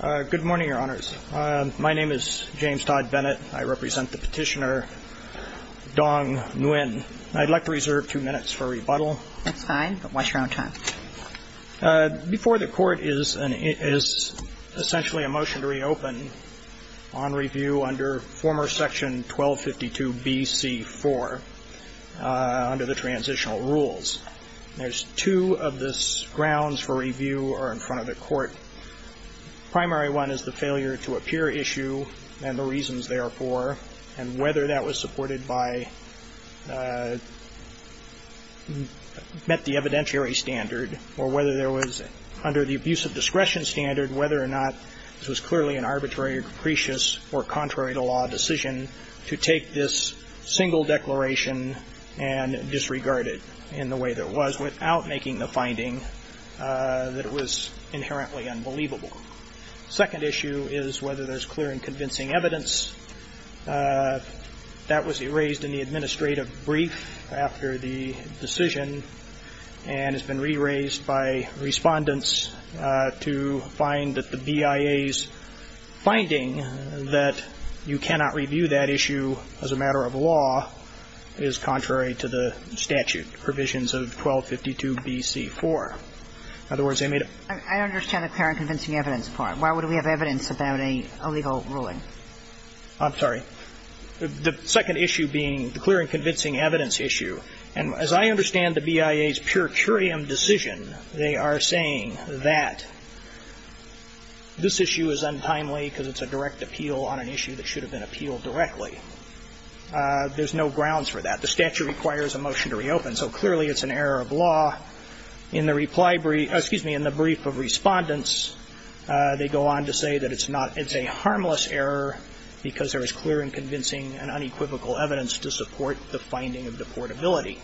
Good morning, Your Honors. My name is James Todd Bennett. I represent the petitioner, Dong Nguyen. I'd like to reserve two minutes for rebuttal. That's fine, but watch your own time. Before the Court is essentially a motion to reopen on review under former Section 1252 B.C. 4 under the transitional rules. There's two of the grounds for review are in front of the Court. Primary one is the failure to appear issue and the reasons therefore, and whether that was supported by, met the evidentiary standard, or whether there was, under the abuse of discretion standard, whether or not this was clearly an arbitrary or capricious or contrary to law decision to take this single declaration and disregard it in the way that it was without making the finding that it was inherently unbelievable. Second issue is whether there's clear and convincing evidence that was erased in the administrative brief after the decision and has been re-raised by respondents to find that the BIA's finding that you cannot review that issue as a matter of law is contrary to the statute provisions of 1252 B.C. 4. In other words, they made a I understand the clear and convincing evidence part. Why would we have evidence about an illegal ruling? I'm sorry. The second issue being the clear and convincing evidence issue. And as I understand the BIA's pure curiam decision, they are saying that this issue is untimely because it's a direct appeal on an issue that should have been appealed directly. There's no grounds for that. The statute requires a motion to reopen, so clearly it's an error of law. In the reply brief, excuse me, in the brief of respondents, they go on to say that it's not, it's a harmless error because there is clear and convincing and unequivocal evidence to support the finding of deportability.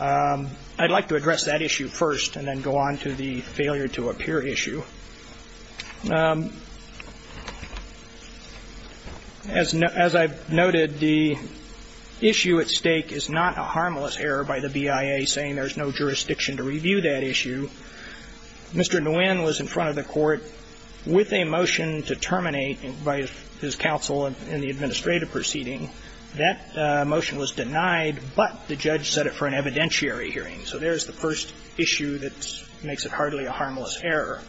I'd like to address that issue first and then go on to the failure to appear issue. As I've noted, the issue at stake is not a harmless error by the BIA saying there's no jurisdiction to review that issue. Mr. Nguyen was in front of the Court with a motion to terminate by his counsel in the administrative proceeding. That motion was denied, but the judge set it for an evidentiary hearing. So there's the first issue that makes it hardly a harmless error.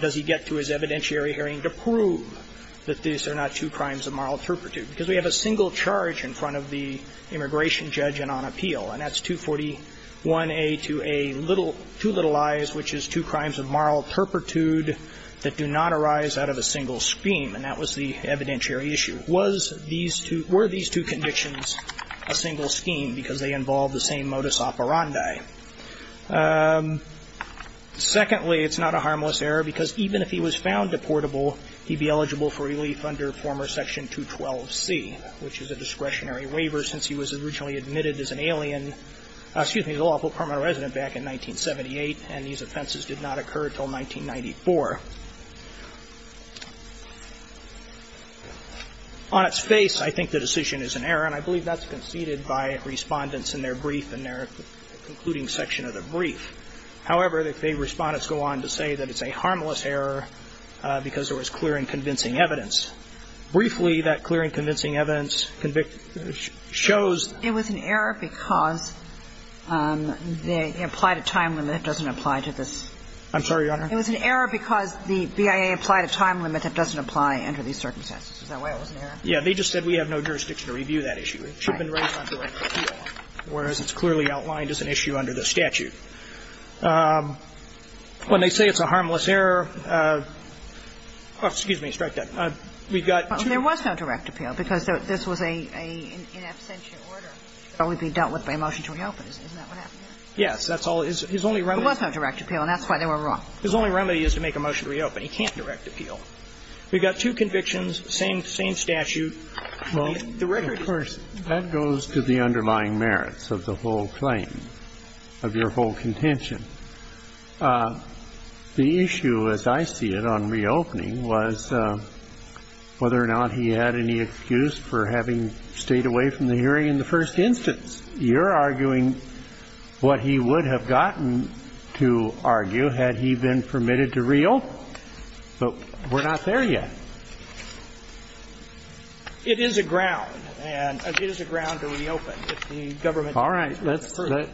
Does he get to his evidentiary hearing to prove that these are not two crimes of moral turpitude? Because we have a single charge in front of the immigration judge and on appeal, and that's 241a to a little, two little i's, which is two crimes of moral turpitude that do not arise out of a single scheme, and that was the evidentiary issue. Was these two, were these two convictions a single scheme because they involve the same modus operandi? Secondly, it's not a harmless error because even if he was found deportable, he'd be eligible for relief under former Section 212C, which is a discretionary waiver since he was originally admitted as an alien, excuse me, as a lawful permanent resident back in 1978, and these offenses did not occur until 1994. On its face, I think the decision is an error, and I believe that's conceded by Respondents in their brief and their concluding section of the brief. However, the Respondents go on to say that it's a harmless error because there was clear and convincing evidence. Briefly, that clear and convincing evidence shows that it was an error because they applied a time limit that doesn't apply to this. I'm sorry, Your Honor? It was an error because the BIA applied a time limit that doesn't apply under these circumstances. Is that why it was an error? Yeah, they just said we have no jurisdiction to review that issue. It should have been raised on direct appeal, whereas it's clearly outlined as an issue under the statute. When they say it's a harmless error, excuse me, strike that. We've got two. Well, there was no direct appeal because this was an in absentia order. It would only be dealt with by a motion to reopen. Isn't that what happened? Yes, that's all. His only remedy is to make a motion to reopen. He can't direct appeal. We've got two convictions, same statute. Well, of course, that goes to the underlying merits of the whole claim, of your whole contention. The issue, as I see it, on reopening was whether or not he had any excuse for having stayed away from the hearing in the first instance. You're arguing what he would have gotten to argue had he been permitted to reopen. No, but we're not there yet. It is a ground, and it is a ground to reopen if the government doesn't approve it. All right.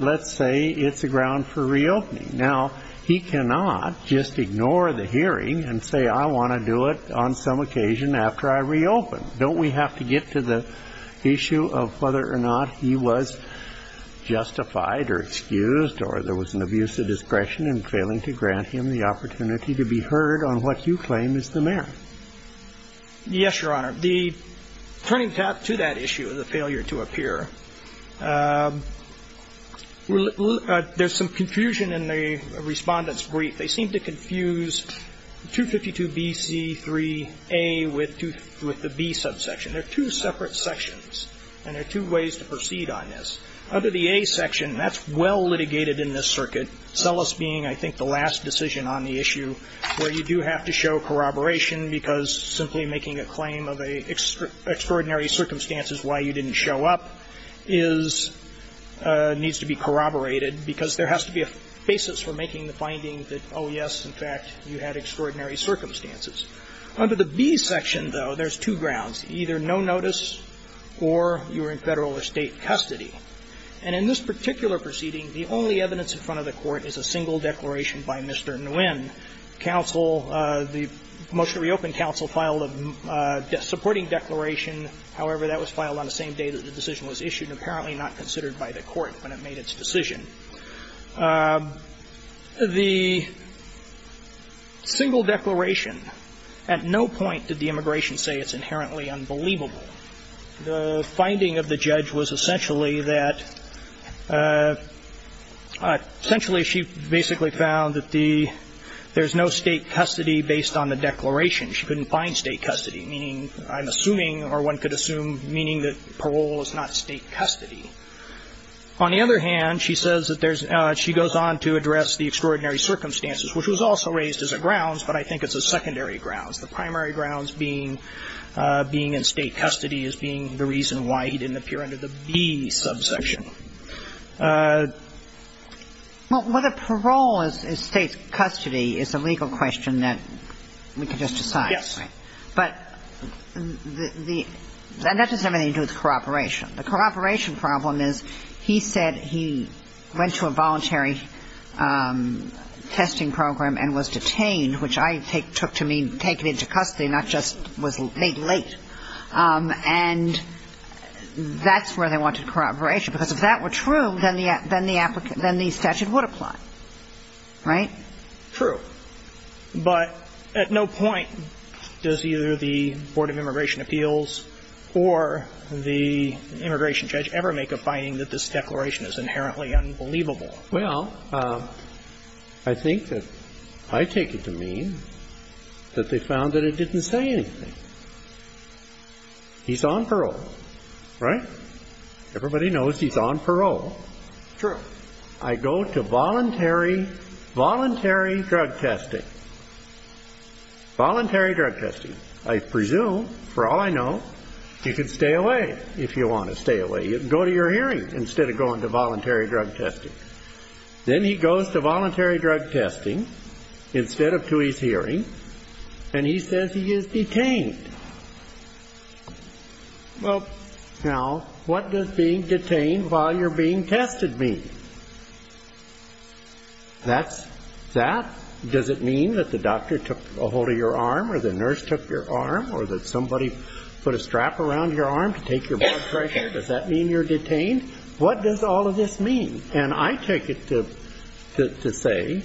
Let's say it's a ground for reopening. Now, he cannot just ignore the hearing and say I want to do it on some occasion after I reopen. Don't we have to get to the issue of whether or not he was justified or excused or there was an abuse of discretion in failing to grant him the opportunity to be heard on what you claim is the merit? Yes, Your Honor. The turning tap to that issue of the failure to appear, there's some confusion in the Respondent's brief. They seem to confuse 252bc3a with the b subsection. They're two separate sections, and there are two ways to proceed on this. Under the a section, that's well litigated in this circuit, Sellis being, I think, the last decision on the issue where you do have to show corroboration because simply making a claim of extraordinary circumstances why you didn't show up is needs to be corroborated because there has to be a basis for making the finding that, oh, yes, in fact, you had extraordinary circumstances. Under the b section, though, there's two grounds, either no notice or you were in Federal or State custody. And in this particular proceeding, the only evidence in front of the Court is a single declaration by Mr. Nguyen. Counsel, the motion to reopen counsel, filed a supporting declaration. However, that was filed on the same day that the decision was issued and apparently not considered by the Court when it made its decision. The single declaration, at no point did the immigration say it's inherently unbelievable. The finding of the judge was essentially that, essentially, she basically found that there's no State custody based on the declaration. She couldn't find State custody, meaning, I'm assuming, or one could assume, meaning that parole is not State custody. On the other hand, she goes on to address the extraordinary circumstances, which was also raised as a grounds, but I think it's a secondary grounds, the primary grounds being being in State custody as being the reason why he didn't appear under the b subsection. Well, whether parole is State custody is a legal question that we can just decide. Yes. But the, and that doesn't have anything to do with corroboration. The corroboration problem is, he said he went to a voluntary testing program and was detained, which I take, took to mean taken into custody, not just was laid late. And that's where they wanted corroboration, because if that were true, then the applicant, then the statute would apply. Right? True. But at no point does either the Board of Immigration Appeals or the immigration judge ever make a finding that this declaration is inherently unbelievable. Well, I think that I take it to mean that they found that it didn't say anything. He's on parole. Right? Everybody knows he's on parole. True. I go to voluntary, voluntary drug testing. Voluntary drug testing. I presume, for all I know, you can stay away if you want to stay away. You can go to your hearing instead of going to voluntary drug testing. Then he goes to voluntary drug testing instead of to his hearing, and he says he is detained. Well, now, what does being detained while you're being tested mean? That's, that, does it mean that the doctor took a hold of your arm or the nurse took your arm or that somebody put a strap around your arm to take your blood pressure? Does that mean you're detained? What does all of this mean? And I take it to say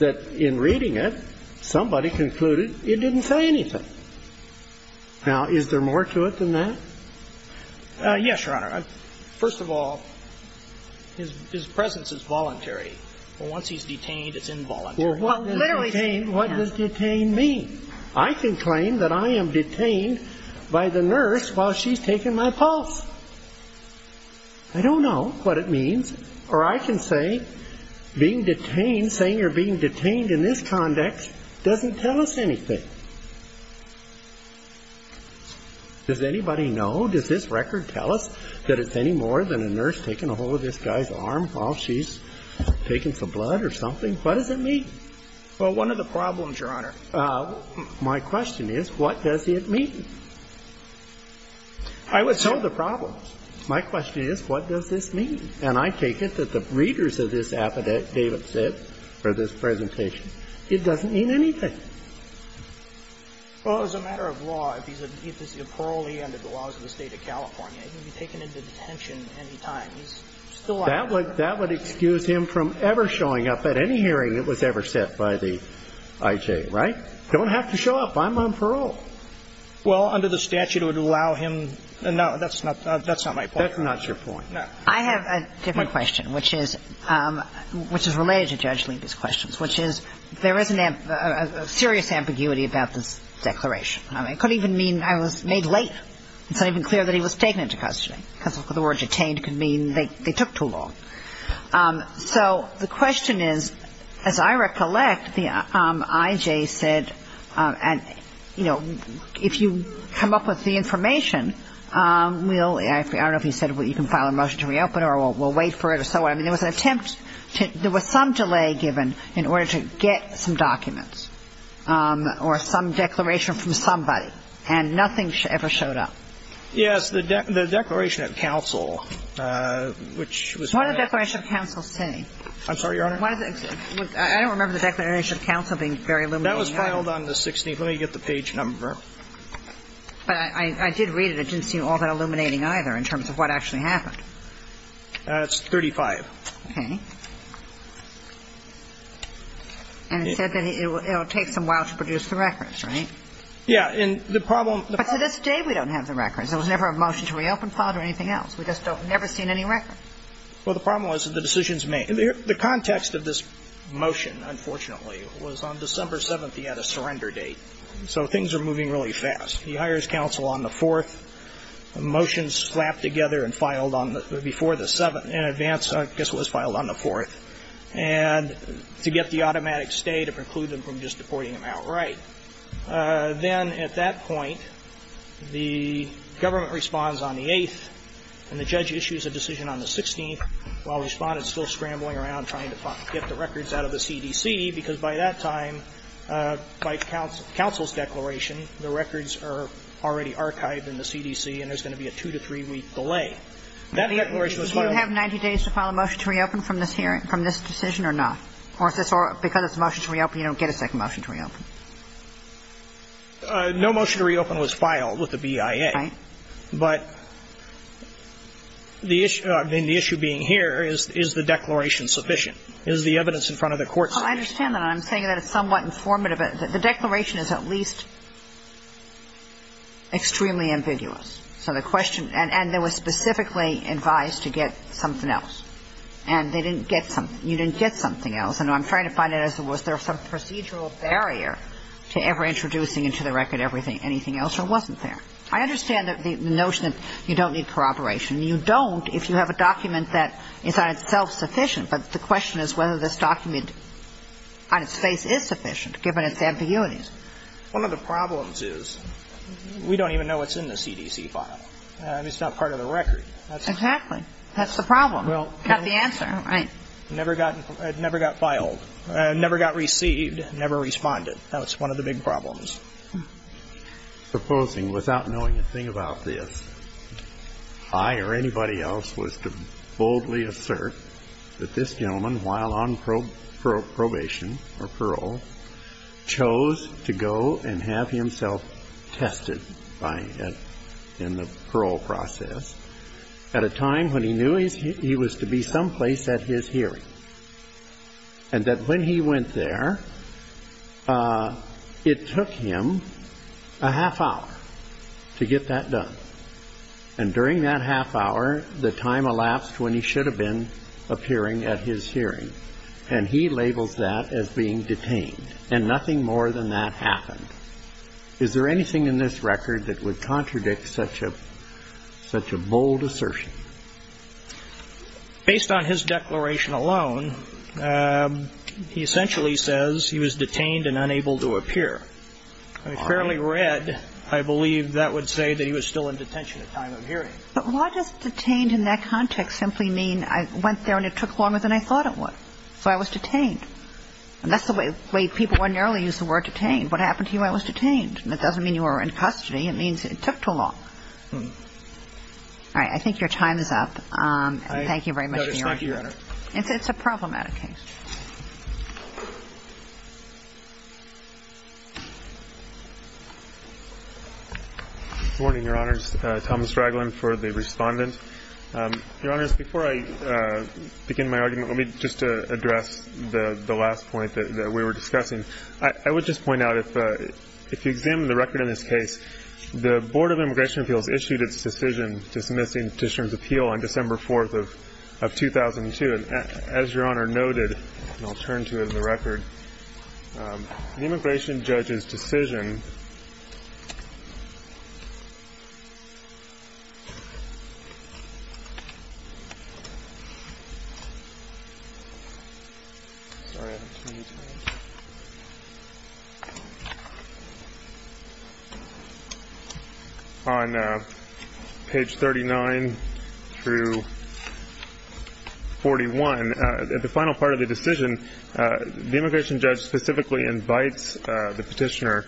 that in reading it, somebody concluded it didn't say anything. Now, is there more to it than that? Yes, Your Honor. First of all, his presence is voluntary. But once he's detained, it's involuntary. Well, what does detained mean? I can claim that I am detained by the nurse while she's taking my pulse. I don't know what it means. Or I can say being detained, saying you're being detained in this context, doesn't tell us anything. Does anybody know? Does this record tell us that it's any more than a nurse taking a hold of this guy's arm while she's taking some blood or something? What does it mean? Well, one of the problems, Your Honor. My question is, what does it mean? I was told the problem. My question is, what does this mean? And I take it that the readers of this affidavit said for this presentation, it doesn't mean anything. Well, as a matter of law, if he's a parolee under the laws of the State of California, he can be taken into detention at any time. That would excuse him from ever showing up at any hearing that was ever set by the IJ, right? Don't have to show up. I'm on parole. Well, under the statute, it would allow him to. No, that's not my point, Your Honor. That's not your point. I have a different question, which is related to Judge Leiby's questions, which is there is a serious ambiguity about this declaration. It could even mean I was made late. It's not even clear that he was taken into custody. Because the word detained could mean they took too long. So the question is, as I recollect, the IJ said, you know, if you come up with the information, I don't know if he said you can file a motion to reopen or we'll wait for it or so on. I mean, there was an attempt. There was some delay given in order to get some documents or some declaration from somebody, and nothing ever showed up. Yes. The Declaration of Counsel, which was. What did the Declaration of Counsel say? I'm sorry, Your Honor? I don't remember the Declaration of Counsel being very illuminating. That was filed on the 16th. Let me get the page number. But I did read it. It didn't seem all that illuminating either in terms of what actually happened. It's 35. Okay. And it said that it will take some while to produce the records, right? Yeah. And the problem. But to this day, we don't have the records. There was never a motion to reopen filed or anything else. We just have never seen any record. Well, the problem was the decisions made. The context of this motion, unfortunately, was on December 7th. He had a surrender date. So things are moving really fast. He hires counsel on the 4th. The motion is slapped together and filed before the 7th. In advance, I guess it was filed on the 4th. And to get the automatic stay to preclude them from just deporting him outright. Then at that point, the government responds on the 8th. And the judge issues a decision on the 16th, while Respondent is still scrambling around trying to get the records out of the CDC, because by that time, by counsel's declaration, the records are already archived in the CDC, and there's going to be a two to three-week delay. That declaration was filed. Do you have 90 days to file a motion to reopen from this hearing, from this decision or not? Because it's a motion to reopen, you don't get a second motion to reopen. No motion to reopen was filed with the BIA. Right. But the issue being here is, is the declaration sufficient? Is the evidence in front of the courts sufficient? I understand that. I'm saying that it's somewhat informative. The declaration is at least extremely ambiguous. So the question – and they were specifically advised to get something else. And they didn't get something – you didn't get something else. And I'm trying to find out, was there some procedural barrier to ever introducing into the record anything else, or it wasn't there? I understand the notion that you don't need corroboration. You don't if you have a document that is on itself sufficient. But the question is whether this document on its face is sufficient, given its ambiguities. One of the problems is we don't even know what's in the CDC file. I mean, it's not part of the record. Exactly. That's the problem. Got the answer. Right. Never got filed. Never got received. Never responded. That was one of the big problems. Supposing, without knowing a thing about this, I or anybody else was to boldly assert that this gentleman, while on probation or parole, chose to go and have himself tested in the parole process at a time when he knew he was to be someplace at his hearing, and that when he went there, it took him a half hour to get that done. And during that half hour, the time elapsed when he should have been appearing at his hearing. And he labels that as being detained. And nothing more than that happened. Is there anything in this record that would contradict such a bold assertion? Based on his declaration alone, he essentially says he was detained and unable to appear. If fairly read, I believe that would say that he was still in detention at time of hearing. But why does detained in that context simply mean I went there and it took longer than I thought it would? So I was detained. And that's the way people ordinarily use the word detained. What happened to you? I was detained. That doesn't mean you were in custody. It means it took too long. All right. I think your time is up. Thank you very much for your argument. No, thank you, Your Honor. It's a problematic case. Good morning, Your Honors. Thomas Ragland for the Respondent. Your Honors, before I begin my argument, let me just address the last point that we were discussing. I would just point out if you examine the record in this case, the Board of Immigration Appeals issued its decision dismissing Petitioner's appeal on December 4th of 2002. And as Your Honor noted, and I'll turn to it in the record, the immigration judge's decision On page 39 through 41, at the final part of the decision, the immigration judge specifically invites the petitioner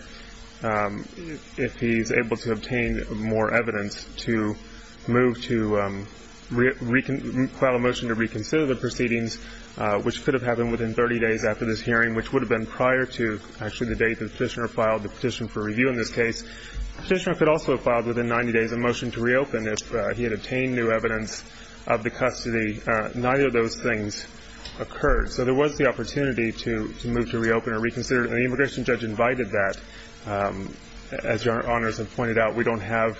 if he's able to obtain more evidence to move to file a motion to reconsider the proceedings, which could have happened within 30 days after this hearing, which would have been prior to actually the date the petitioner filed the petition for review in this case. The petitioner could also have filed within 90 days a motion to reopen if he had obtained new evidence of the custody. Neither of those things occurred. So there was the opportunity to move to reopen or reconsider. And the immigration judge invited that. As Your Honors have pointed out, we don't have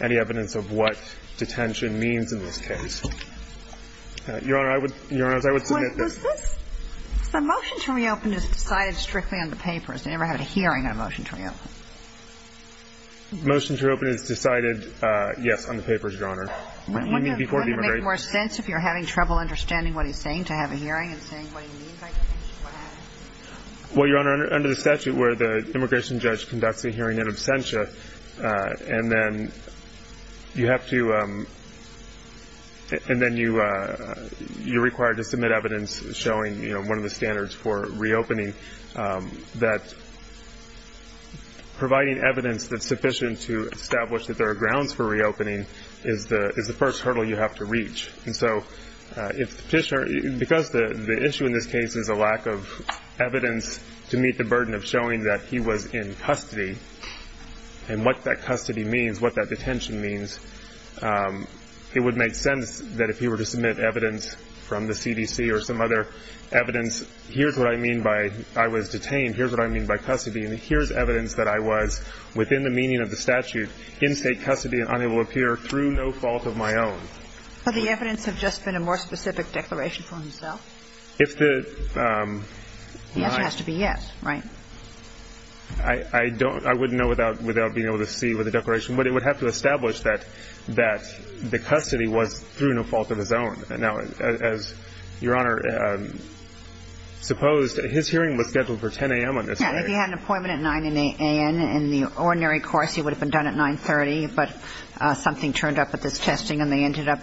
any evidence of what detention means in this case. Your Honors, I would submit that the motion to reopen is decided strictly on the papers. They never had a hearing on the motion to reopen. The motion to reopen is decided, yes, on the papers, Your Honor. You mean before the immigration judge? Wouldn't it make more sense if you're having trouble understanding what he's saying to have a hearing and saying what he means? Well, Your Honor, under the statute where the immigration judge conducts a hearing in absentia, and then you have to, and then you're required to submit evidence showing one of the standards for reopening, that providing evidence that's sufficient to establish that there are grounds for reopening is the first hurdle you have to reach. And so if the petitioner, because the issue in this case is a lack of evidence to meet the burden of showing that he was in custody and what that custody means, what that detention means, it would make sense that if he were to submit evidence from the CDC or some other evidence, here's what I mean by I was detained, here's what I mean by custody, and here's evidence that I was within the meaning of the statute in state custody and unable to appear through no fault of my own. But the evidence have just been a more specific declaration from himself? If the... The answer has to be yes, right? I don't, I wouldn't know without being able to see with the declaration, but it would have to establish that the custody was through no fault of his own. Now, Your Honor, suppose his hearing was scheduled for 10 a.m. on this day. Yeah, if he had an appointment at 9 a.m. in the ordinary course, he would have been done at 9.30, but something turned up at this testing and they ended up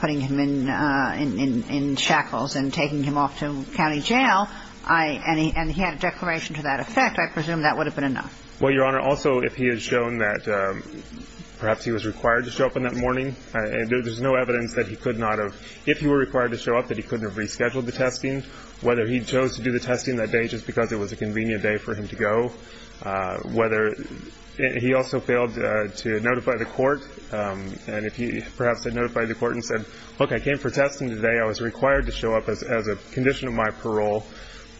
putting him in shackles and taking him off to county jail, and he had a declaration to that effect, I presume that would have been enough. Well, Your Honor, also if he had shown that perhaps he was required to show up on that morning, there's no evidence that he could not have. If he were required to show up, that he couldn't have rescheduled the testing, whether he chose to do the testing that day just because it was a convenient day for him to go, whether he also failed to notify the court, and if he perhaps had notified the court and said, look, I came for testing today, I was required to show up as a condition of my parole.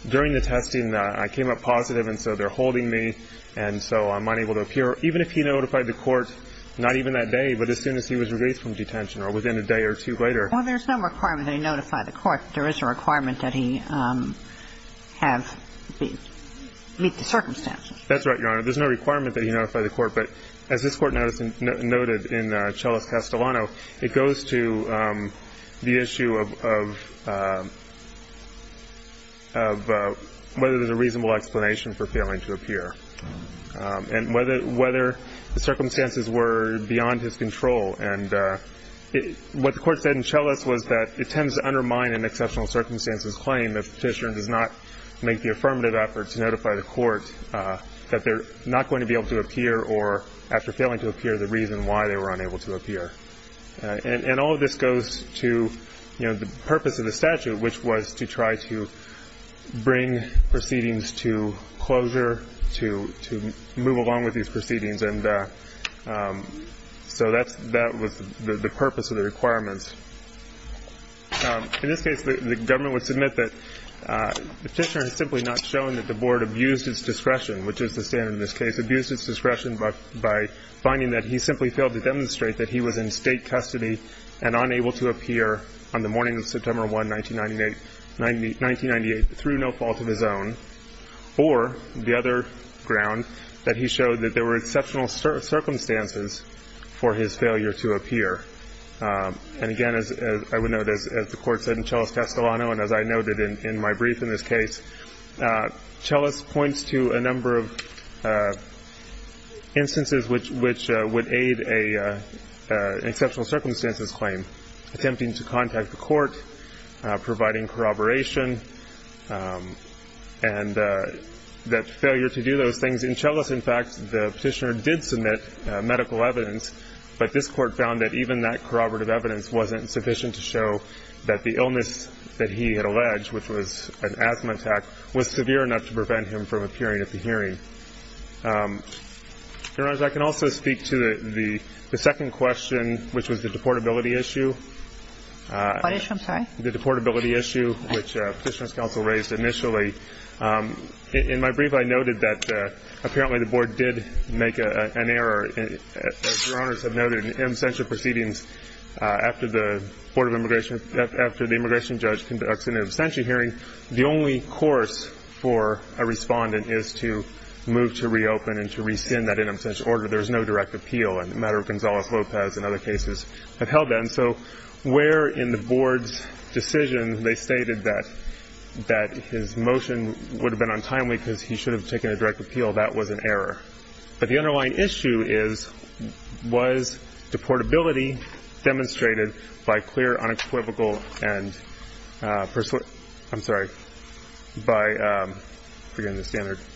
During the testing, I came up positive, and so they're holding me, and so I'm unable to appear. Even if he notified the court, not even that day, but as soon as he was released from detention or within a day or two later. Well, there's no requirement that he notify the court. There is a requirement that he meet the circumstances. That's right, Your Honor. There's no requirement that he notify the court, but as this Court noted in Celis-Castellano, it goes to the issue of whether there's a reasonable explanation for failing to appear and whether the circumstances were beyond his control. And what the Court said in Celis was that it tends to undermine an exceptional circumstances claim if the petitioner does not make the affirmative effort to notify the court that they're not going to be able to appear or, after failing to appear, the reason why they were unable to appear. And all of this goes to the purpose of the statute, which was to try to bring proceedings to closure, to move along with these proceedings, and so that was the purpose of the requirements. In this case, the government would submit that the petitioner has simply not shown that the Board abused its discretion, which is the standard in this case, abused its discretion by finding that he simply failed to demonstrate that he was in State custody and unable to appear on the morning of September 1, 1998, through no fault of his own, or the other ground, that he showed that there were exceptional circumstances for his failure to appear. And again, as I would note, as the Court said in Celis-Castellano and as I noted in my brief in this case, Celis points to a number of instances which would aid an exceptional circumstances claim, attempting to contact the court, providing corroboration, and that failure to do those things. In Celis, in fact, the petitioner did submit medical evidence, but this Court found that even that corroborative evidence wasn't sufficient to show that the illness that he had alleged, which was an asthma attack, was severe enough to prevent him from appearing at the hearing. Your Honors, I can also speak to the second question, which was the deportability issue. What issue? I'm sorry? The deportability issue, which Petitioner's Counsel raised initially. In my brief, I noted that apparently the Board did make an error. As Your Honors have noted, in absentia proceedings after the Board of Immigration – after the immigration judge conducts an absentia hearing, the only course for a respondent is to move to reopen and to rescind that in absentia order. There is no direct appeal, and the matter of Gonzalez-Lopez and other cases have held that. And so where in the Board's decision they stated that his motion would have been untimely because he should have taken a direct appeal, that was an error. But the underlying issue is, was deportability demonstrated by clear, unequivocal, and – I'm sorry – by – I'm forgetting the standard –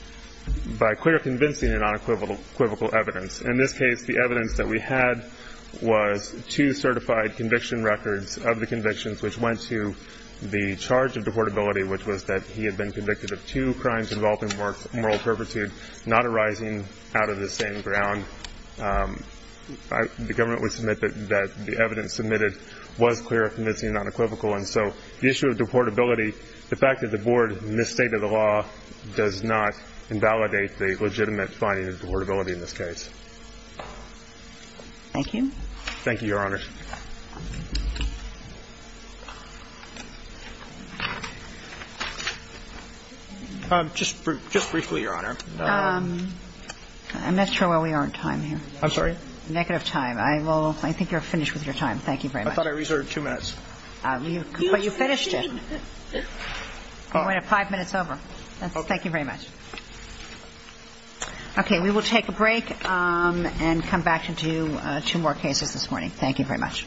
by clear, convincing, and unequivocal evidence. In this case, the evidence that we had was two certified conviction records of the convictions which went to the charge of deportability, which was that he had been convicted of two crimes involving moral perversity, not arising out of the same ground. The Government would submit that the evidence submitted was clear, convincing, and unequivocal. And so the issue of deportability, the fact that the Board misstated the law, does not invalidate the legitimate finding of deportability in this case. Thank you. Thank you, Your Honor. Just briefly, Your Honor. I'm not sure where we are in time here. I'm sorry? Negative time. I will – I think you're finished with your time. Thank you very much. I thought I reserved two minutes. But you finished it. We're five minutes over. Thank you very much. Okay. We will take a break and come back to do two more cases this morning. Thank you very much. Thank you.